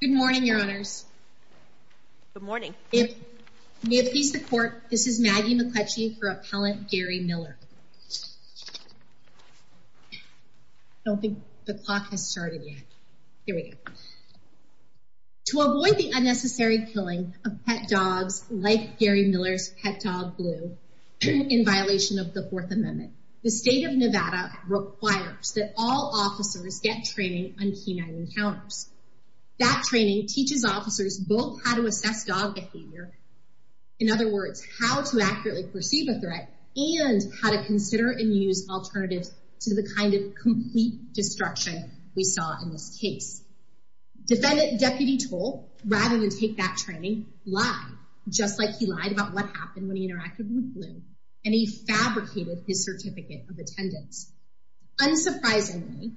Good morning, your honors. Good morning. May it please the court, this is Maggie McCletchie for Appellant Gary Miller. I don't think the clock has started yet. Here we go. To avoid the unnecessary killing of pet dogs like Gary Miller's pet dog Blue in violation of the Fourth Amendment, the state of Nevada requires that all officers get training on canine encounters. That training teaches officers both how to assess dog behavior, in other words how to accurately perceive a threat, and how to consider and use alternatives to the kind of complete destruction we saw in this case. Defendant Deputy Toll, rather than take that training, lied, just like he lied about what happened when he interacted with Blue, and he fabricated his certificate of attendance. Unsurprisingly,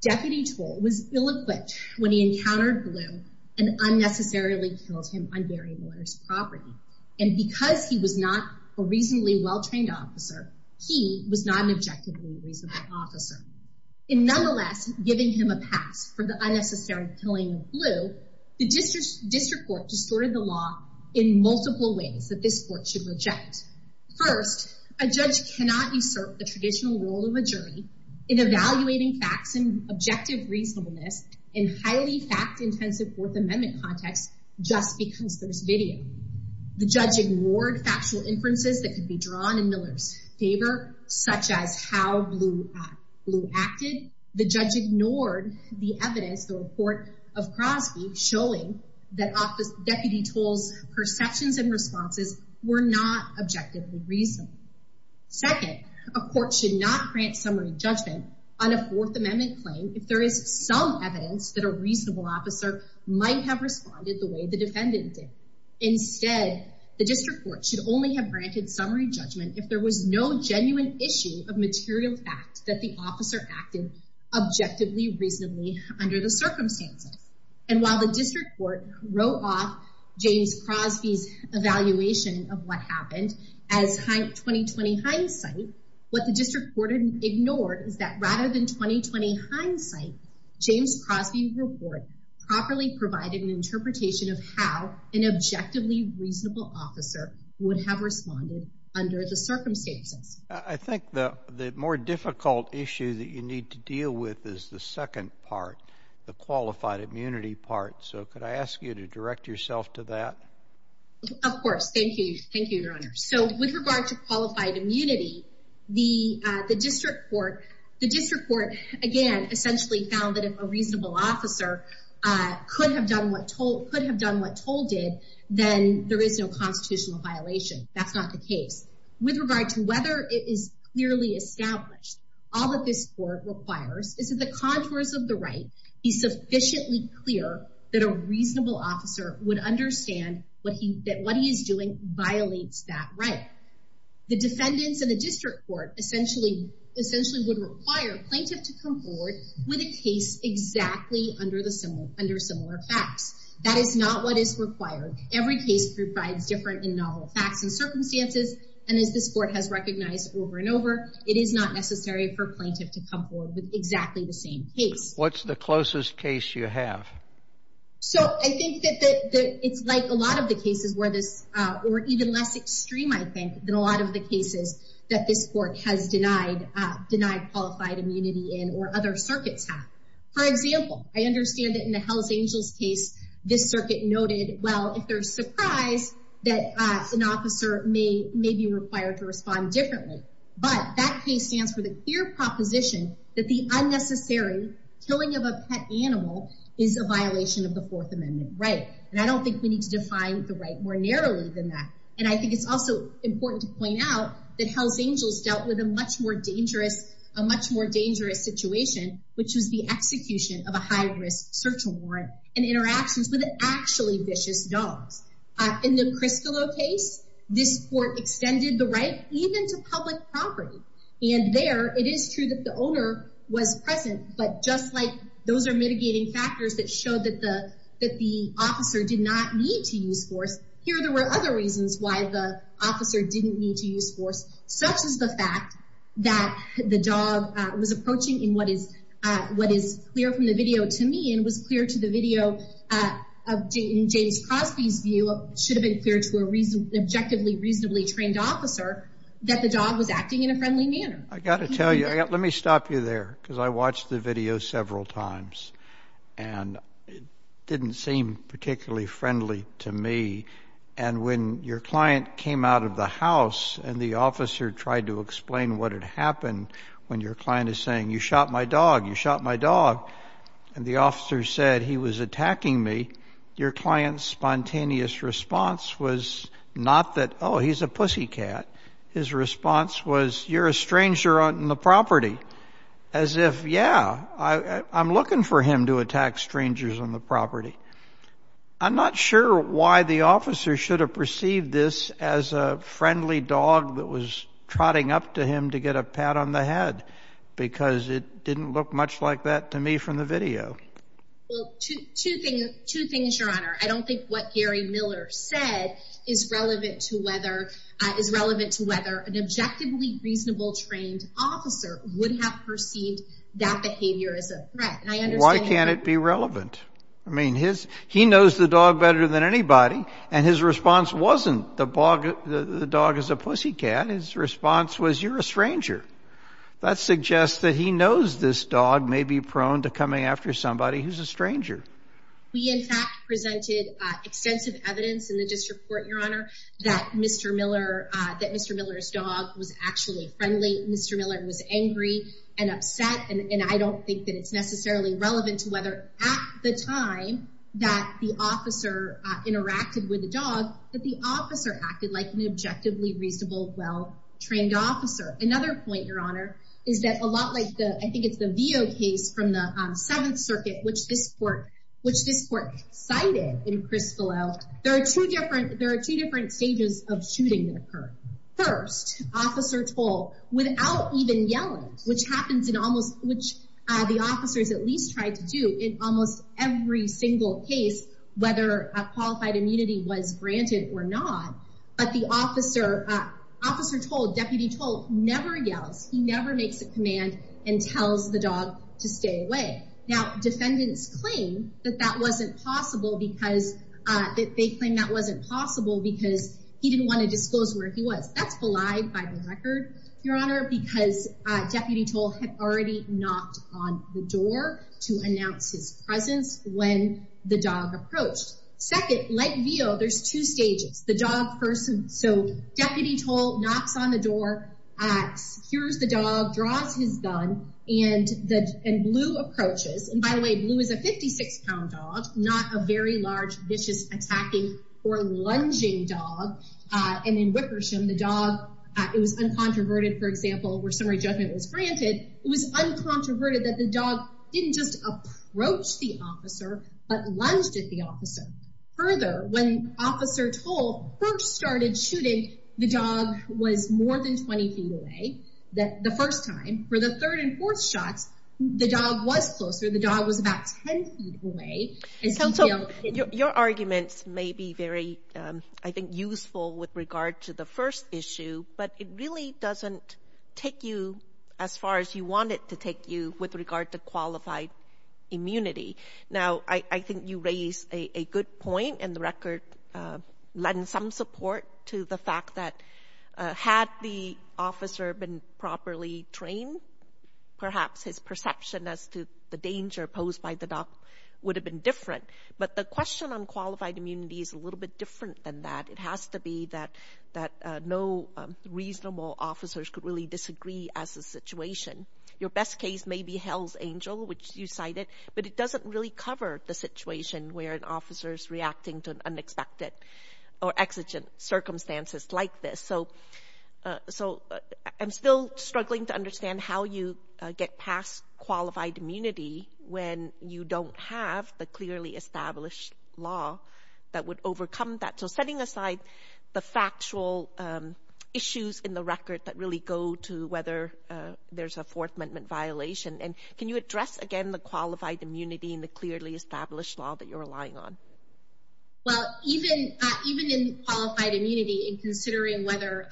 Deputy Toll was ill-equipped when he encountered Blue and unnecessarily killed him on Gary Miller's property, and because he was not a reasonably well-trained officer, he was not an objectively reasonable officer. In nonetheless giving him a pass for the unnecessary killing of Blue, the District Court distorted the law in the traditional role of a jury in evaluating facts and objective reasonableness in highly fact-intensive Fourth Amendment context just because there's video. The judge ignored factual inferences that could be drawn in Miller's favor, such as how Blue acted. The judge ignored the evidence, the report of Crosby, showing that Deputy Toll's perceptions and responses were not objectively reasonable. Second, a court should not grant summary judgment on a Fourth Amendment claim if there is some evidence that a reasonable officer might have responded the way the defendant did. Instead, the District Court should only have granted summary judgment if there was no genuine issue of material fact that the officer acted objectively reasonably under the circumstances, and while the District Court wrote off James Crosby's evaluation of what happened as 2020 hindsight, what the District Court ignored is that rather than 2020 hindsight, James Crosby's report properly provided an interpretation of how an objectively reasonable officer would have responded under the circumstances. I think the more difficult issue that you need to deal with is the second part, the qualified immunity part, so could I Of course, thank you. Thank you, Your Honor. So with regard to qualified immunity, the District Court, again, essentially found that if a reasonable officer could have done what Toll did, then there is no constitutional violation. That's not the case. With regard to whether it is clearly established, all that this court requires is that the contours of the right be sufficiently clear that a reasonable officer would understand what he is doing violates that right. The defendants in the District Court essentially would require plaintiff to come forward with a case exactly under similar facts. That is not what is required. Every case provides different and novel facts and circumstances, and as this court has recognized over and over, it is not necessary for plaintiff to come forward with exactly the same case. What's the closest case you have? So I think it's even less extreme, I think, than a lot of the cases that this court has denied qualified immunity in or other circuits have. For example, I understand that in the Hells Angels case, this circuit noted, well, if they're surprised that an officer may be required to respond differently, but that case stands for the clear proposition that the unnecessary killing of a pet animal is a violation of the Fourth Amendment right, and I don't think we need to define the right more narrowly than that. And I think it's also important to point out that Hells Angels dealt with a much more dangerous situation, which was the execution of a high-risk search warrant and interactions with actually vicious dogs. In the Criscillo case, this court extended the right even to public property, and there it is true that the owner was present, but just like those are mitigating factors that show that the officer did not need to use force, here there were other reasons why the officer didn't need to use force, such as the fact that the dog was approaching in what is clear from the video to me, and was clear to the video in James Crosby's view, should have been clear to an objectively reasonably trained officer, that the dog was acting in a friendly manner. I got to tell you, let me stop you there, because I watched the video several times, and it didn't seem particularly friendly to me, and when your client came out of the house and the officer tried to explain what had happened, when your client is saying you shot my dog, you shot my dog, and the officer said he was attacking me, your client's spontaneous response was not that, oh he's a pussycat, his response was you're a stranger on the property, as if, yeah, I'm looking for him to attack strangers on the property. I'm not sure why the officer should have perceived this as a friendly dog that was trotting up to him to get a pat on the head, because it didn't look much like that to me from the video. Well, two things, Your Honor. I don't think what Gary Miller said is relevant to whether, is a reasonably trained officer would have perceived that behavior as a threat. Why can't it be relevant? I mean, he knows the dog better than anybody, and his response wasn't the dog is a pussycat, his response was you're a stranger. That suggests that he knows this dog may be prone to coming after somebody who's a stranger. We, in fact, presented extensive evidence in the District Court, Your Honor, that Mr. Miller's dog was actually friendly. Mr. Miller was angry and upset, and I don't think that it's necessarily relevant to whether at the time that the officer interacted with the dog, that the officer acted like an objectively reasonable, well-trained officer. Another point, Your Honor, is that a lot like the, I think it's the Veo case from the Seventh Circuit, which this court cited in Crispolo, there are two different stages of shooting that occur. First, Officer Toll, without even yelling, which happens in almost, which the officers at least tried to do in almost every single case, whether a qualified immunity was granted or not, but the officer, Officer Toll, Deputy Toll, never yells. He never makes a command and tells the dog to stay away. Now, defendants claim that that wasn't possible because he didn't want to disclose where he was. That's belied by the record, Your Honor, because Deputy Toll had already knocked on the door to announce his presence when the dog approached. Second, like Veo, there's two stages. The dog first, so Deputy Toll knocks on the door, secures the dog, draws his gun, and Blue approaches. And by the way, Blue is a 56-pound dog, not a very large, vicious, attacking, or lunging dog. And in Wickersham, the dog, it was uncontroverted, for example, where summary judgment was granted. It was uncontroverted that the dog didn't just approach the officer, but lunged at the officer. Further, when Officer Toll first started shooting, the dog was more than 20 feet away the first time. For the third and tenth time, it was about 10 feet away. Counsel, your arguments may be very, I think, useful with regard to the first issue, but it really doesn't take you as far as you want it to take you with regard to qualified immunity. Now, I think you raise a good point, and the record lends some support to the fact that had the officer been properly trained, perhaps his perception as to the danger posed by the dog would have been different. But the question on qualified immunity is a little bit different than that. It has to be that no reasonable officers could really disagree as a situation. Your best case may be Hell's Angel, which you cited, but it doesn't really cover the situation where an officer is reacting to unexpected or exigent circumstances like this. So, I'm still struggling to understand how you get past qualified immunity when you don't have the clearly established law that would overcome that. So, setting aside the factual issues in the record that really go to whether there's a Fourth Amendment violation, and can you address again the qualified immunity and the clearly established law that you're relying on? Well, even in qualified immunity, in considering whether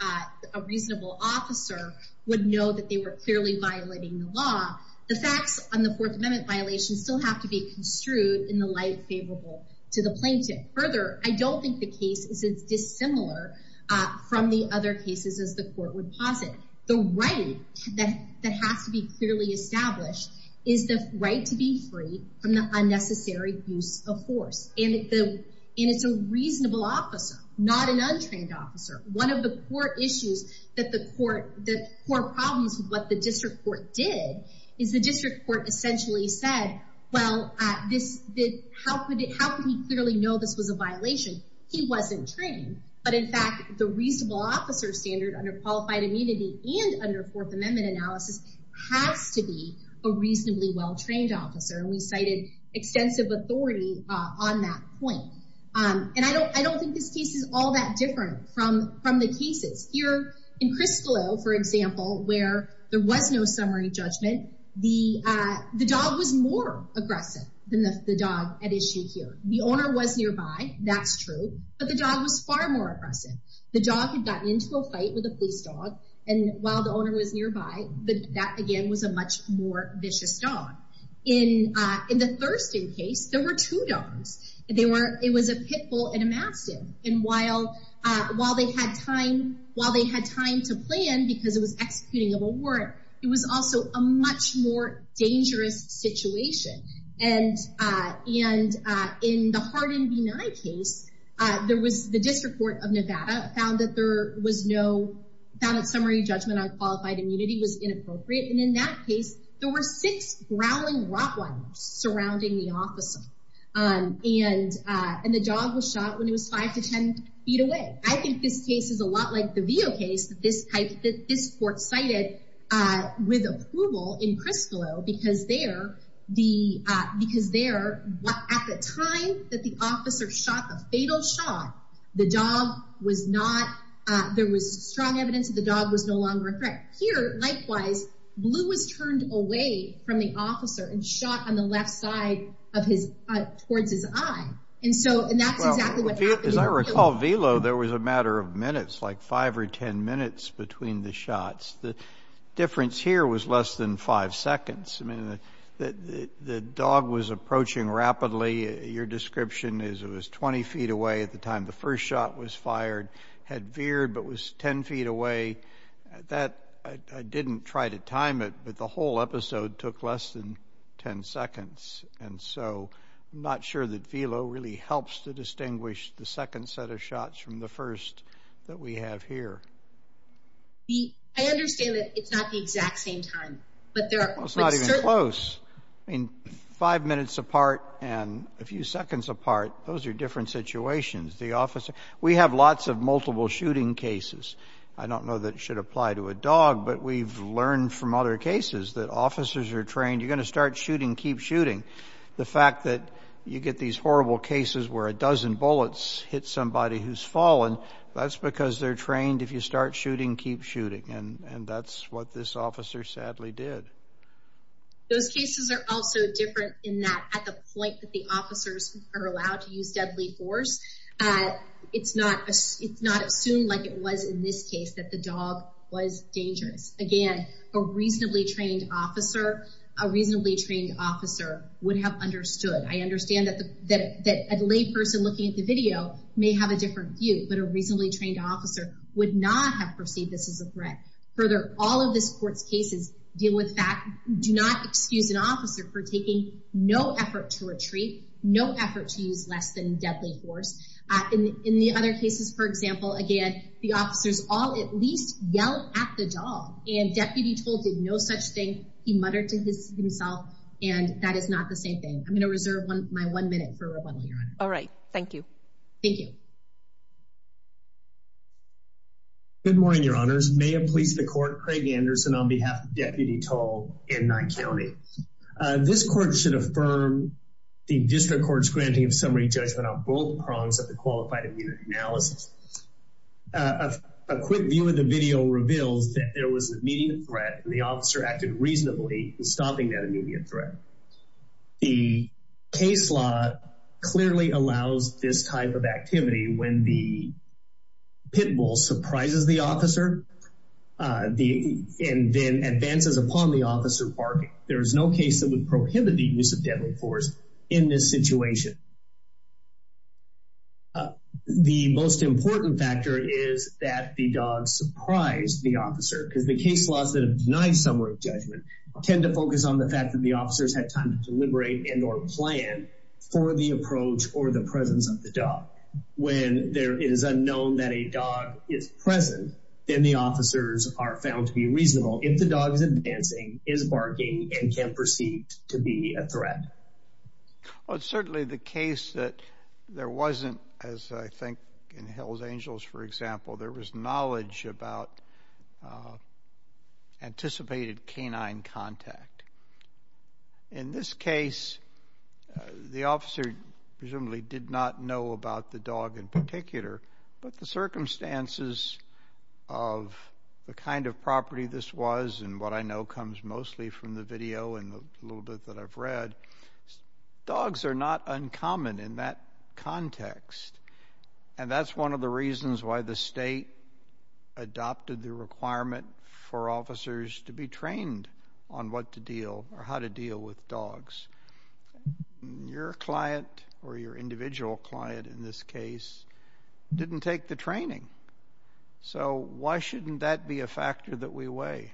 a reasonable officer would know that they were clearly violating the law, the facts on the Fourth Amendment violations still have to be construed in the light favorable to the plaintiff. Further, I don't think the case is as dissimilar from the other cases as the court would posit. The right that has to be clearly established is the right to be free from the unnecessary use of force. And it's a reasonable officer, not an untrained officer. One of the core issues that the court, the core problems with what the district court did is the district court essentially said, well, how could he clearly know this was a violation? He wasn't trained. But in fact, the reasonable officer standard under qualified immunity and under Fourth Amendment analysis has to be a reasonably well-trained officer. And we cited extensive authority on that point. And I don't think this case is all that different from the cases. Here in Criscolo, for example, where there was no summary judgment, the dog was more aggressive than the dog at issue here. The owner was nearby, that's true, but the dog was far more aggressive. The dog had gotten into a fight with a police dog. And while the owner was nearby, that again was a much more vicious dog. In the Thurston case, there were two dogs. It was a Pitbull and a Mastiff. And while they had time to plan, because it was executing of a warrant, it was also a much more dangerous situation. And in the Hardin v. Nye case, the district court of Nevada found that summary judgment on qualified immunity was inappropriate. And in that case, there were six growling rottweilers surrounding the officer. And the dog was shot when it was five to 10 feet away. I think this case is a lot like the Veo case that this court cited with approval in Criscolo, because there, at the time that the officer shot the fatal shot, the dog was not, there was strong evidence that the dog was no longer a threat. Here, likewise, Blue was turned away from the officer and shot on the left side of his, towards his eye. And so, and that's exactly what happened. As I recall, Velo, there was a matter of minutes, like five or 10 minutes between the shots. The less than five seconds. I mean, the dog was approaching rapidly. Your description is it was 20 feet away at the time the first shot was fired, had veered, but was 10 feet away. That, I didn't try to time it, but the whole episode took less than 10 seconds. And so, I'm not sure that Velo really helps to distinguish the second set of shots from the first that we have here. The, I understand that it's not the exact same time, but there are. Well, it's not even close. I mean, five minutes apart and a few seconds apart, those are different situations. The officer, we have lots of multiple shooting cases. I don't know that it should apply to a dog, but we've learned from other cases that officers are trained, you're going to start shooting, keep shooting. The fact that you get these horrible cases where a dozen bullets hit somebody who's fallen, that's because they're trained, if you start shooting, keep shooting. And that's what this officer sadly did. Those cases are also different in that at the point that the officers are allowed to use deadly force, it's not assumed like it was in this case that the dog was dangerous. Again, a reasonably trained officer, a reasonably trained officer would have understood. I understand that a lay person looking at the video may have a different view, but a reasonably trained officer would not have perceived this as a threat. Further, all of this court's cases deal with that. Do not excuse an officer for taking no effort to retreat, no effort to use less than deadly force. In the other cases, for example, again, the officers all at least yelled at the dog and deputy told him no such thing. He muttered to himself and that is not the same thing. I'm going to reserve my one minute for rebuttal, Your Honor. All right. Thank you. Thank you. Good morning, Your Honors. May it please the court, Craig Anderson on behalf of Deputy Tall in Nye County. This court should affirm the district court's granting of summary judgment on both prongs of the qualified immunity analysis. A quick view of the video reveals that there was an immediate threat and the officer acted reasonably in stopping that immediate threat. The case law clearly allows this type of activity when the pit bull surprises the officer and then advances upon the officer barking. There is no case that would prohibit the use of deadly force in this situation. The most important factor is that the dog surprised the officer because the case laws that have denied summary judgment tend to focus on the officers had time to deliberate and or plan for the approach or the presence of the dog. When there is unknown that a dog is present, then the officers are found to be reasonable if the dog is advancing, is barking, and can proceed to be a threat. Well, it's certainly the case that there wasn't, as I think in Hell's Angels, for example, there was knowledge about anticipated canine contact. In this case, the officer presumably did not know about the dog in particular, but the circumstances of the kind of property this was and what I know comes mostly from the video and the little bit that I've read, dogs are not uncommon in that context. And that's one of the reasons why the state adopted the requirement for officers to be trained on what to deal or how to deal with dogs. Your client or your individual client in this case didn't take the training. So why shouldn't that be a factor that we weigh?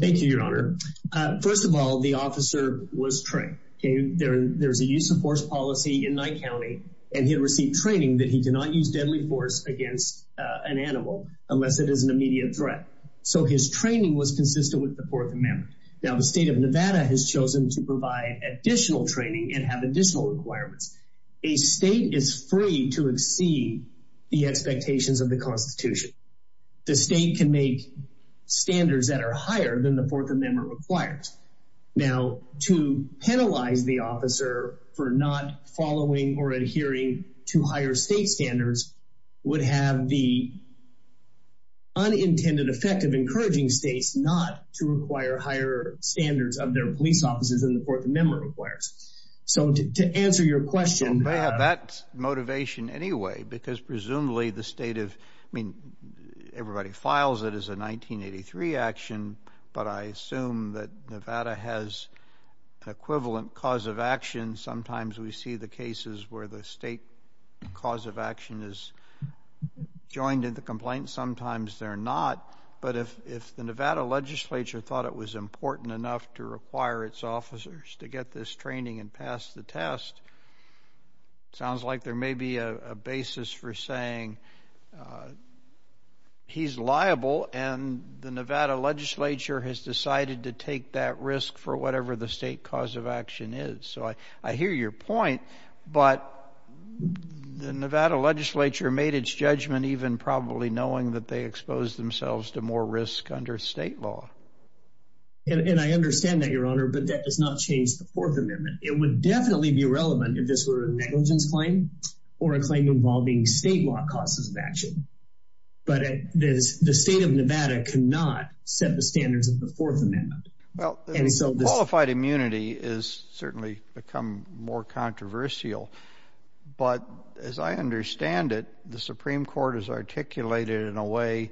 Thank you, Your Honor. First of all, the officer was trained. There's a use of force policy in training that he cannot use deadly force against an animal unless it is an immediate threat. So his training was consistent with the Fourth Amendment. Now, the state of Nevada has chosen to provide additional training and have additional requirements. A state is free to exceed the expectations of the Constitution. The state can make standards that are higher than the Fourth Amendment. And the state's ability to require state standards would have the unintended effect of encouraging states not to require higher standards of their police officers than the Fourth Amendment requires. So to answer your question... So they have that motivation anyway, because presumably the state of... I mean, everybody files it as a 1983 action, but I assume that Nevada has an equivalent cause of action. Sometimes we see the cases where the state cause of action is joined in the complaint. Sometimes they're not. But if the Nevada legislature thought it was important enough to require its officers to get this training and pass the test, sounds like there may be a basis for saying he's liable and the Nevada legislature has decided to take that risk for whatever the state cause of action is. So I hear your point, but the Nevada legislature made its judgment even probably knowing that they exposed themselves to more risk under state law. And I understand that, Your Honor, but that does not change the Fourth Amendment. It would definitely be relevant if this were a negligence claim or a claim involving state law causes of action. But the state of Nevada cannot set the standards of the Fourth Amendment. Well, qualified immunity has certainly become more controversial. But as I understand it, the Supreme Court has articulated in a way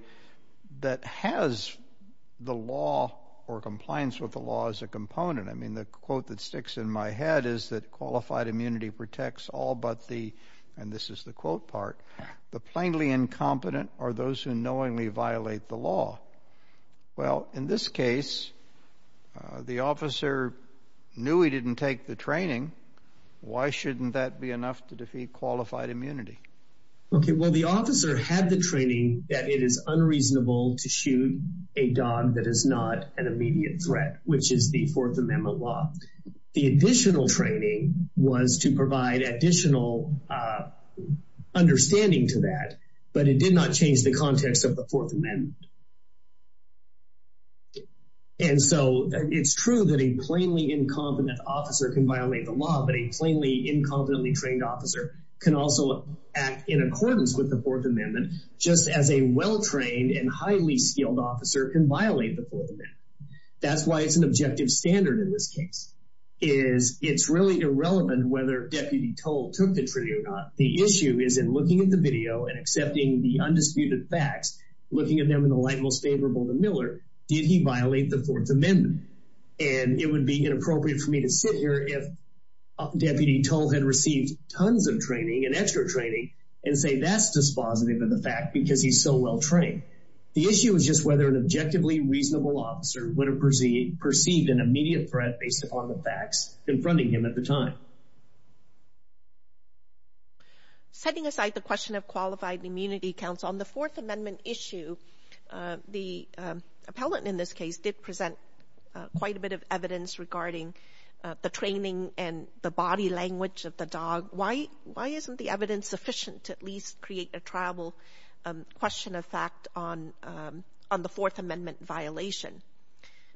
that has the law or compliance with the law as a component. I mean, the quote that sticks in my head is that qualified immunity protects all but and this is the quote part, the plainly incompetent are those who knowingly violate the law. Well, in this case, the officer knew he didn't take the training. Why shouldn't that be enough to defeat qualified immunity? Okay, well, the officer had the training that it is unreasonable to shoot a dog that is not an immediate threat, which is the Fourth Amendment law. The additional training was to provide additional understanding to that, but it did not change the context of the Fourth Amendment. And so it's true that a plainly incompetent officer can violate the law, but a plainly incompetently trained officer can also act in accordance with the Fourth Amendment, just as a well-trained and highly skilled officer can violate the Fourth Amendment. That's why it's an objective standard in this case, is it's really irrelevant whether Deputy Toll took the training or not. The issue is in looking at the video and accepting the undisputed facts, looking at them in the light most favorable to Miller, did he violate the Fourth Amendment? And it would be inappropriate for me to sit here if Deputy Toll had received tons of training and extra training and say that's dispositive of the fact because he's so well-trained. The issue is just whether an objectively reasonable officer would have perceived an immediate threat based upon the facts confronting him at the time. Setting aside the question of qualified immunity counts, on the Fourth Amendment issue, the appellant in this case did present quite a bit of evidence regarding the training and the body language of the dog. Why isn't the evidence sufficient to at least create a triable question of fact on the Fourth Amendment violation?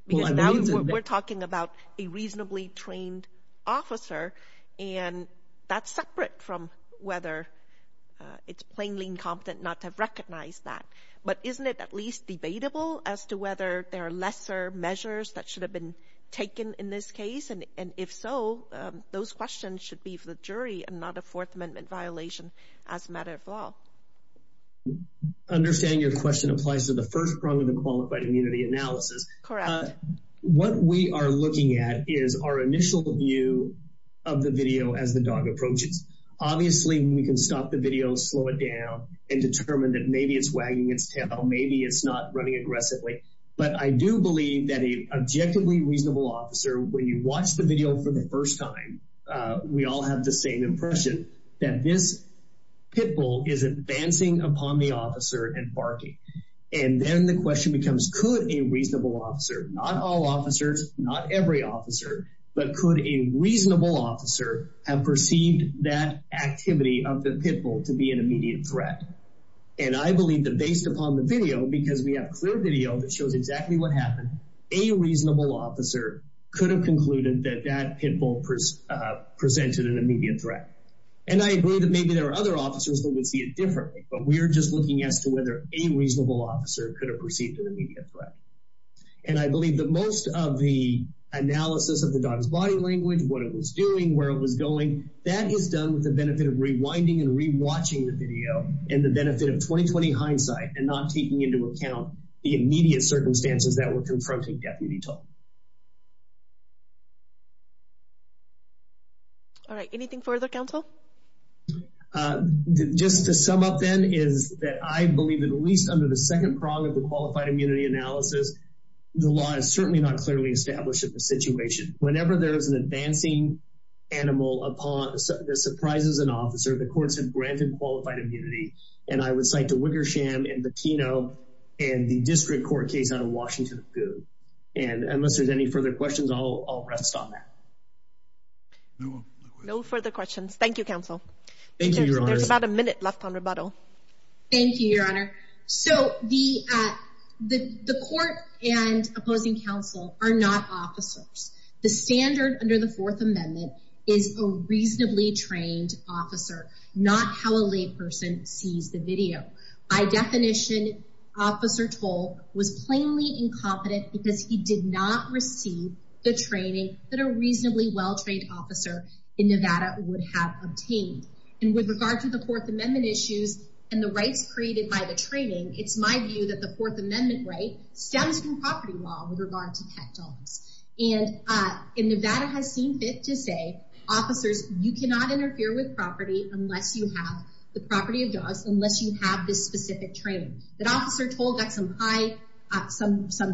Because now we're talking about a reasonably trained officer, and that's separate from whether it's plainly incompetent not to have recognized that. But isn't it at least debatable as to whether there are lesser measures that should have been taken in this case? And if so, those questions should be for the jury and not a Fourth Amendment violation as a matter of law. I understand your question applies to the first prong of the qualified immunity analysis. What we are looking at is our initial view of the video as the dog approaches. Obviously, we can stop the video, slow it down, and determine that maybe it's wagging its tail, maybe it's not running aggressively. But I do believe that an objectively reasonable officer, when you watch the video for the first time, we all have the same impression that this pitbull is advancing upon the officer and barking. And then the question becomes, could a reasonable officer, not all officers, not every officer, but could a reasonable officer have perceived that activity of the pitbull to be an immediate threat? And I believe that based upon the video, because we have clear video that shows exactly what happened, a reasonable officer could have concluded that that pitbull presented an immediate threat. And I agree that maybe there are other officers that would see it differently, but we are just looking as to whether a reasonable officer could have perceived an immediate threat. And I believe that most of the analysis of the dog's body language, what it was doing, where it was going, that is done with the benefit of rewinding and re-watching the video, and the benefit of 20-20 hindsight, and not taking into account the immediate circumstances that we're confronting deputy toll. All right. Anything further, counsel? Just to sum up, then, is that I believe at least under the second prong of the qualified immunity analysis, the law is certainly not clearly established in the situation. Whenever there is an advancing animal that surprises an officer, the courts have granted qualified immunity. And I would cite the Wickersham and the Pino and the district court case out of Washington, and unless there's any further questions, I'll rest on that. No further questions. Thank you, counsel. Thank you, Your Honor. There's about a minute left on rebuttal. Thank you, Your Honor. So the court and opposing counsel are not officers. The standard under the Fourth Amendment is a reasonably trained officer, not how a layperson sees the video. By definition, officer toll was plainly incompetent because he did not receive the training that a reasonably well-trained officer in Nevada would have obtained. And with regard to the Fourth Amendment issues and the rights created by the training, it's my view that the Fourth Amendment right stems from property law with regard to pet dogs. And Nevada has seen fit to say, officers, you cannot interfere with property unless you have the property of dogs, unless you have this specific training. That officer toll got some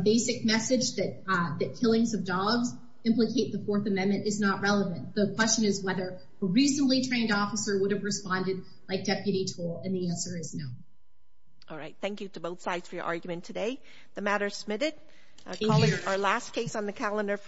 basic message that killings of dogs implicate the Fourth Amendment is not relevant. The question is whether a reasonably trained officer would have responded like deputy toll, and the answer is no. All right. Thank you to both sides for your argument today. The matter is submitted. Our last case on the calendar for